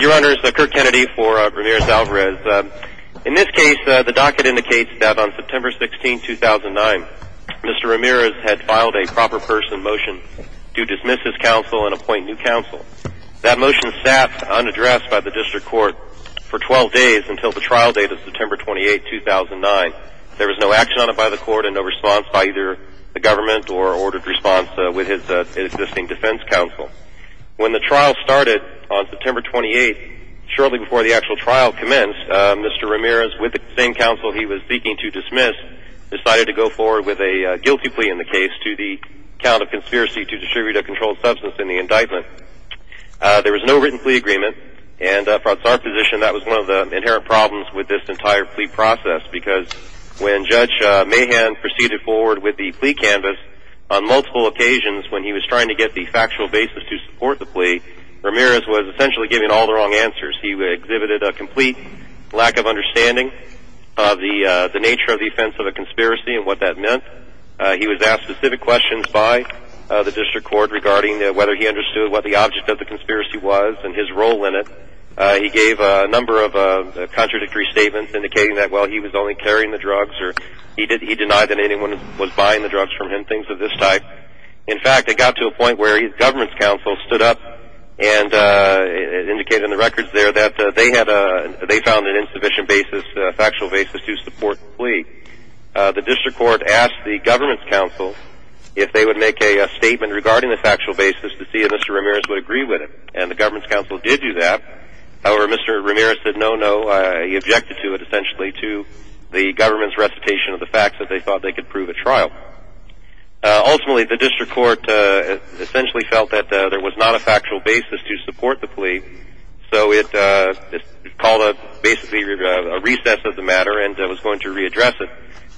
Your Honor, this is Kirk Kennedy for Ramirez-Alvarez. In this case, the docket indicates that on September 16, 2009, Mr. Ramirez had filed a proper person motion to dismiss his counsel and appoint new counsel. That motion sat unaddressed by the district court for 12 days until the trial date of September 28, 2009. There was no action on it by the court and no response by either the government or ordered response with his existing defense counsel. When the trial commenced, Mr. Ramirez, with the same counsel he was seeking to dismiss, decided to go forward with a guilty plea in the case to the count of conspiracy to distribute a controlled substance in the indictment. There was no written plea agreement and from our position that was one of the inherent problems with this entire plea process because when Judge Mahan proceeded forward with the plea canvas on multiple occasions when he was trying to get the factual basis to support the plea, Ramirez was essentially giving all the wrong answers. He exhibited a complete lack of understanding of the nature of the offense of a conspiracy and what that meant. He was asked specific questions by the district court regarding whether he understood what the object of the conspiracy was and his role in it. He gave a number of contradictory statements indicating that, well, he was only carrying the drugs or he denied that anyone was buying the drugs from him, things of this type. In fact, it got to the point where his government's counsel stood up and indicated in the records there that they found an insufficient factual basis to support the plea. The district court asked the government's counsel if they would make a statement regarding the factual basis to see if Mr. Ramirez would agree with it and the government's counsel did do that. However, Mr. Ramirez said no, no. He objected to it essentially to the government's recitation of the facts that they thought they could prove at trial. Ultimately, the district court essentially felt that there was not a factual basis to support the plea, so it called a basically a recess of the matter and was going to readdress it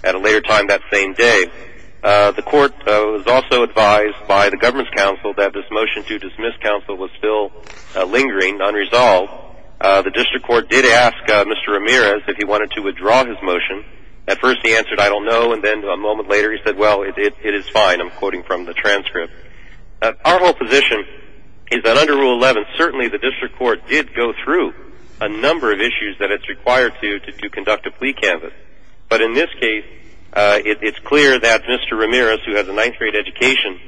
at a later time that same day. The court was also advised by the government's counsel that this motion to dismiss counsel was still lingering unresolved. The district court did ask Mr. Ramirez if he wanted to answer it, I don't know, and then a moment later he said, well, it is fine, I'm quoting from the transcript. Our whole position is that under Rule 11, certainly the district court did go through a number of issues that it's required to to conduct a plea canvass. But in this case, it's clear that Mr. Ramirez, who has a ninth grade education,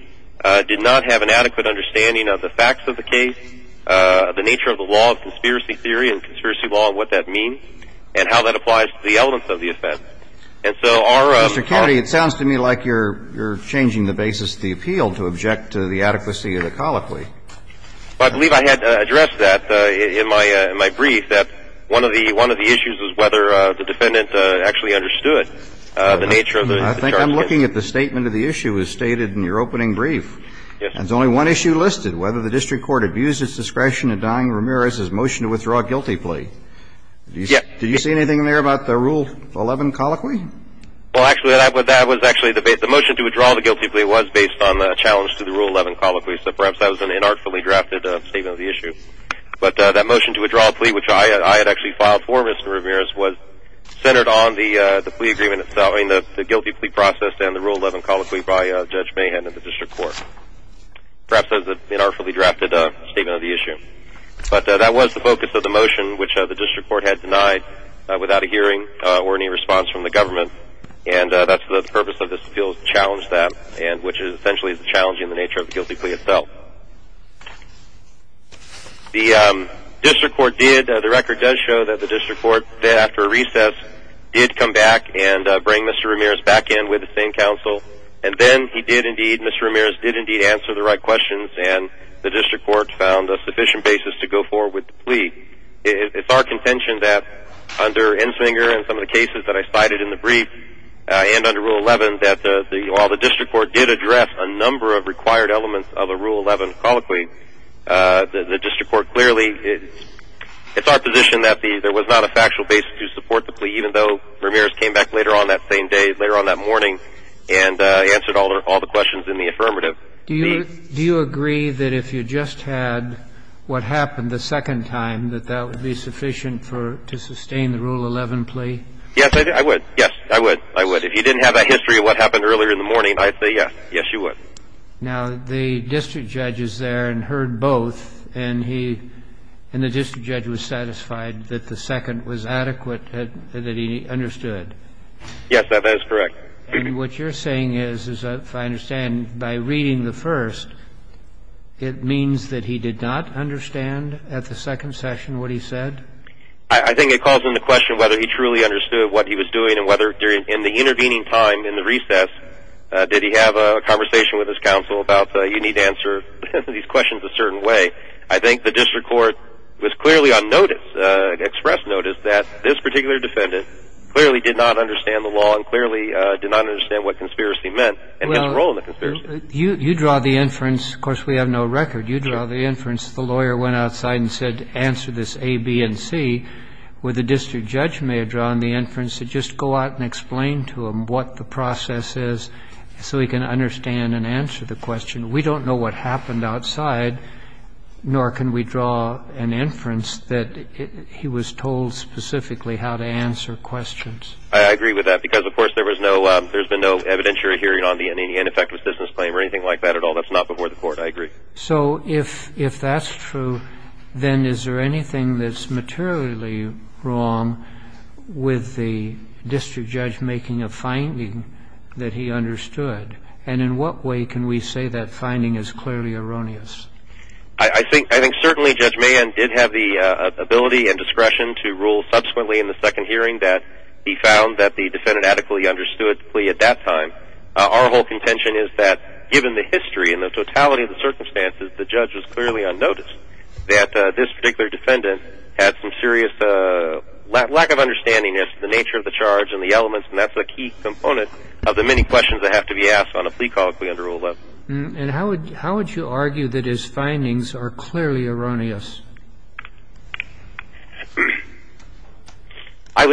did not have an adequate understanding of the facts of the case, the nature of the law of conspiracy theory and conspiracy law and what that means, and how that applies to the elements of the case. So our ---- Mr. Kennedy, it sounds to me like you're changing the basis of the appeal to object to the adequacy of the colloquy. Well, I believe I had addressed that in my brief, that one of the issues was whether the defendant actually understood the nature of the charge. I think I'm looking at the statement of the issue as stated in your opening brief. Yes. And there's only one issue listed, whether the district court abused its discretion in denying Ramirez his motion to withdraw a guilty plea. Yes. Did you see anything there about the Rule 11 colloquy? Well, actually, that was actually the motion to withdraw the guilty plea was based on the challenge to the Rule 11 colloquy, so perhaps that was an inartfully drafted statement of the issue. But that motion to withdraw a plea, which I had actually filed for Mr. Ramirez, was centered on the plea agreement itself. I mean, the guilty plea process and the Rule 11 colloquy by Judge Mahan in the district court. Perhaps that was an inartfully drafted statement of the issue. But that was the focus of the motion, which the district court had denied without a hearing or any response from the government. And that's the purpose of this appeal, to challenge that, which is essentially challenging the nature of the guilty plea itself. The district court did, the record does show that the district court did, after a recess, did come back and bring Mr. Ramirez back in with the same counsel. And then he did indeed, Mr. Ramirez did indeed answer the right questions, and the district court found a sufficient basis to go forward with the plea. It's our contention that under Enslinger and some of the cases that I cited in the brief, and under Rule 11, that while the district court did address a number of required elements of a Rule 11 colloquy, the district court clearly, it's our position that there was not a factual basis to support the plea, even though Ramirez came back later on that same day, later on that morning, and answered all the questions in the affirmative. Do you agree that if you just had what happened the second time, that that would be sufficient to sustain the Rule 11 plea? Yes, I would. Yes, I would. I would. If you didn't have that history of what happened earlier in the morning, I'd say yes. Yes, you would. Now, the district judge is there and heard both, and the district judge was satisfied that the second was adequate, that he understood. Yes, that is correct. And what you're saying is, if I understand, by reading the first, it means that he did not understand at the second session what he said? I think it calls into question whether he truly understood what he was doing and whether during the intervening time, in the recess, did he have a conversation with his counsel about you need to answer these questions a certain way. I think the district court was clearly on notice, express notice, that this particular I did not understand what conspiracy meant and its role in the conspiracy. Well, you draw the inference. Of course, we have no record. You draw the inference. The lawyer went outside and said, answer this A, B, and C, where the district judge may have drawn the inference that just go out and explain to him what the process is so he can understand and answer the question. We don't know what happened outside, nor can we draw an inference that he was told specifically how to answer questions. I agree with that because, of course, there's been no evidentiary hearing on the ineffective assistance claim or anything like that at all. That's not before the court. I agree. So if that's true, then is there anything that's materially wrong with the district judge making a finding that he understood? And in what way can we say that finding is clearly erroneous? I think certainly Judge Mayen did have the ability and discretion to rule subsequently in the second hearing that he found that the defendant adequately understood the plea at that time. Our whole contention is that, given the history and the totality of the circumstances, the judge was clearly unnoticed, that this particular defendant had some serious lack of understanding as to the nature of the charge and the elements, and that's a key component of the many questions that have to be asked on a plea call if we're under Rule 11. And how would you argue that his findings are clearly erroneous? I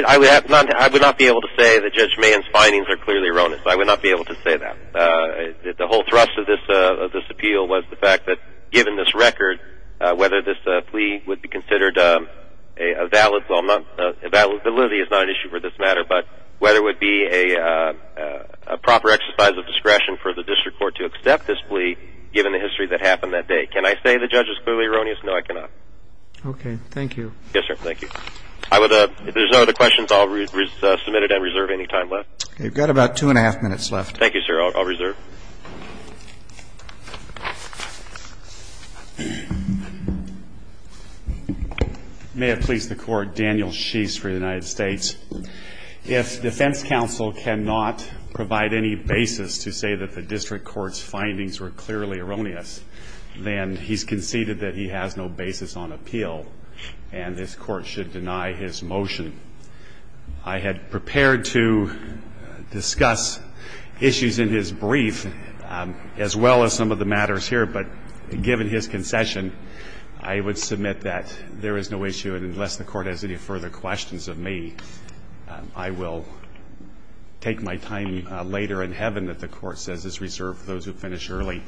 would not be able to say that Judge Mayen's findings are clearly erroneous. I would not be able to say that. The whole thrust of this appeal was the fact that, given this record, whether this plea would be considered a valid one. Validability is not an issue for this matter, but whether it would be a proper exercise of given the history that happened that day. Can I say the judge is clearly erroneous? No, I cannot. Okay. Thank you. Yes, sir. Thank you. If there's no other questions, I'll submit it and reserve any time left. You've got about two and a half minutes left. Thank you, sir. I'll reserve. May it please the Court. Daniel Sheese for the United States. If defense counsel cannot provide any basis to say that the district court's findings were clearly erroneous, then he's conceded that he has no basis on appeal, and this Court should deny his motion. I had prepared to discuss issues in his brief as well as some of the matters here, but given his concession, I would submit that there is no issue, and unless the Court has any further questions of me, I will take my time later in Heaven that the Court says is reserved for those who finish early.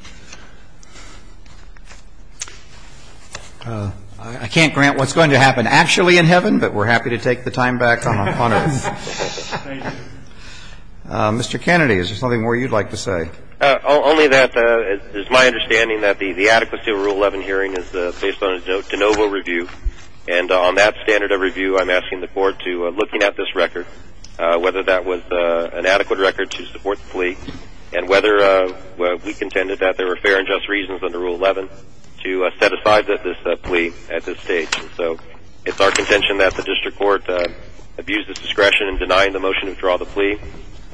I can't grant what's going to happen actually in Heaven, but we're happy to take the time back on Earth. Thank you. Mr. Kennedy, is there something more you'd like to say? Only that it is my understanding that the adequacy of Rule 11 hearing is based on a de novo review and on that standard of review I'm asking the Court to, looking at this record, whether that was an adequate record to support the plea and whether we contended that there were fair and just reasons under Rule 11 to set aside this plea at this stage. And so it's our contention that the district court abused its discretion in denying the motion to withdraw the plea,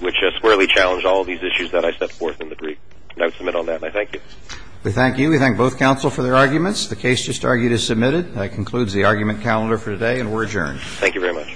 which squarely challenged all of these issues that I set forth in the brief. And I would submit on that, and I thank you. We thank you. We thank both counsel for their arguments. The case just argued is submitted. That concludes the argument calendar for today, and we're adjourned. Thank you very much.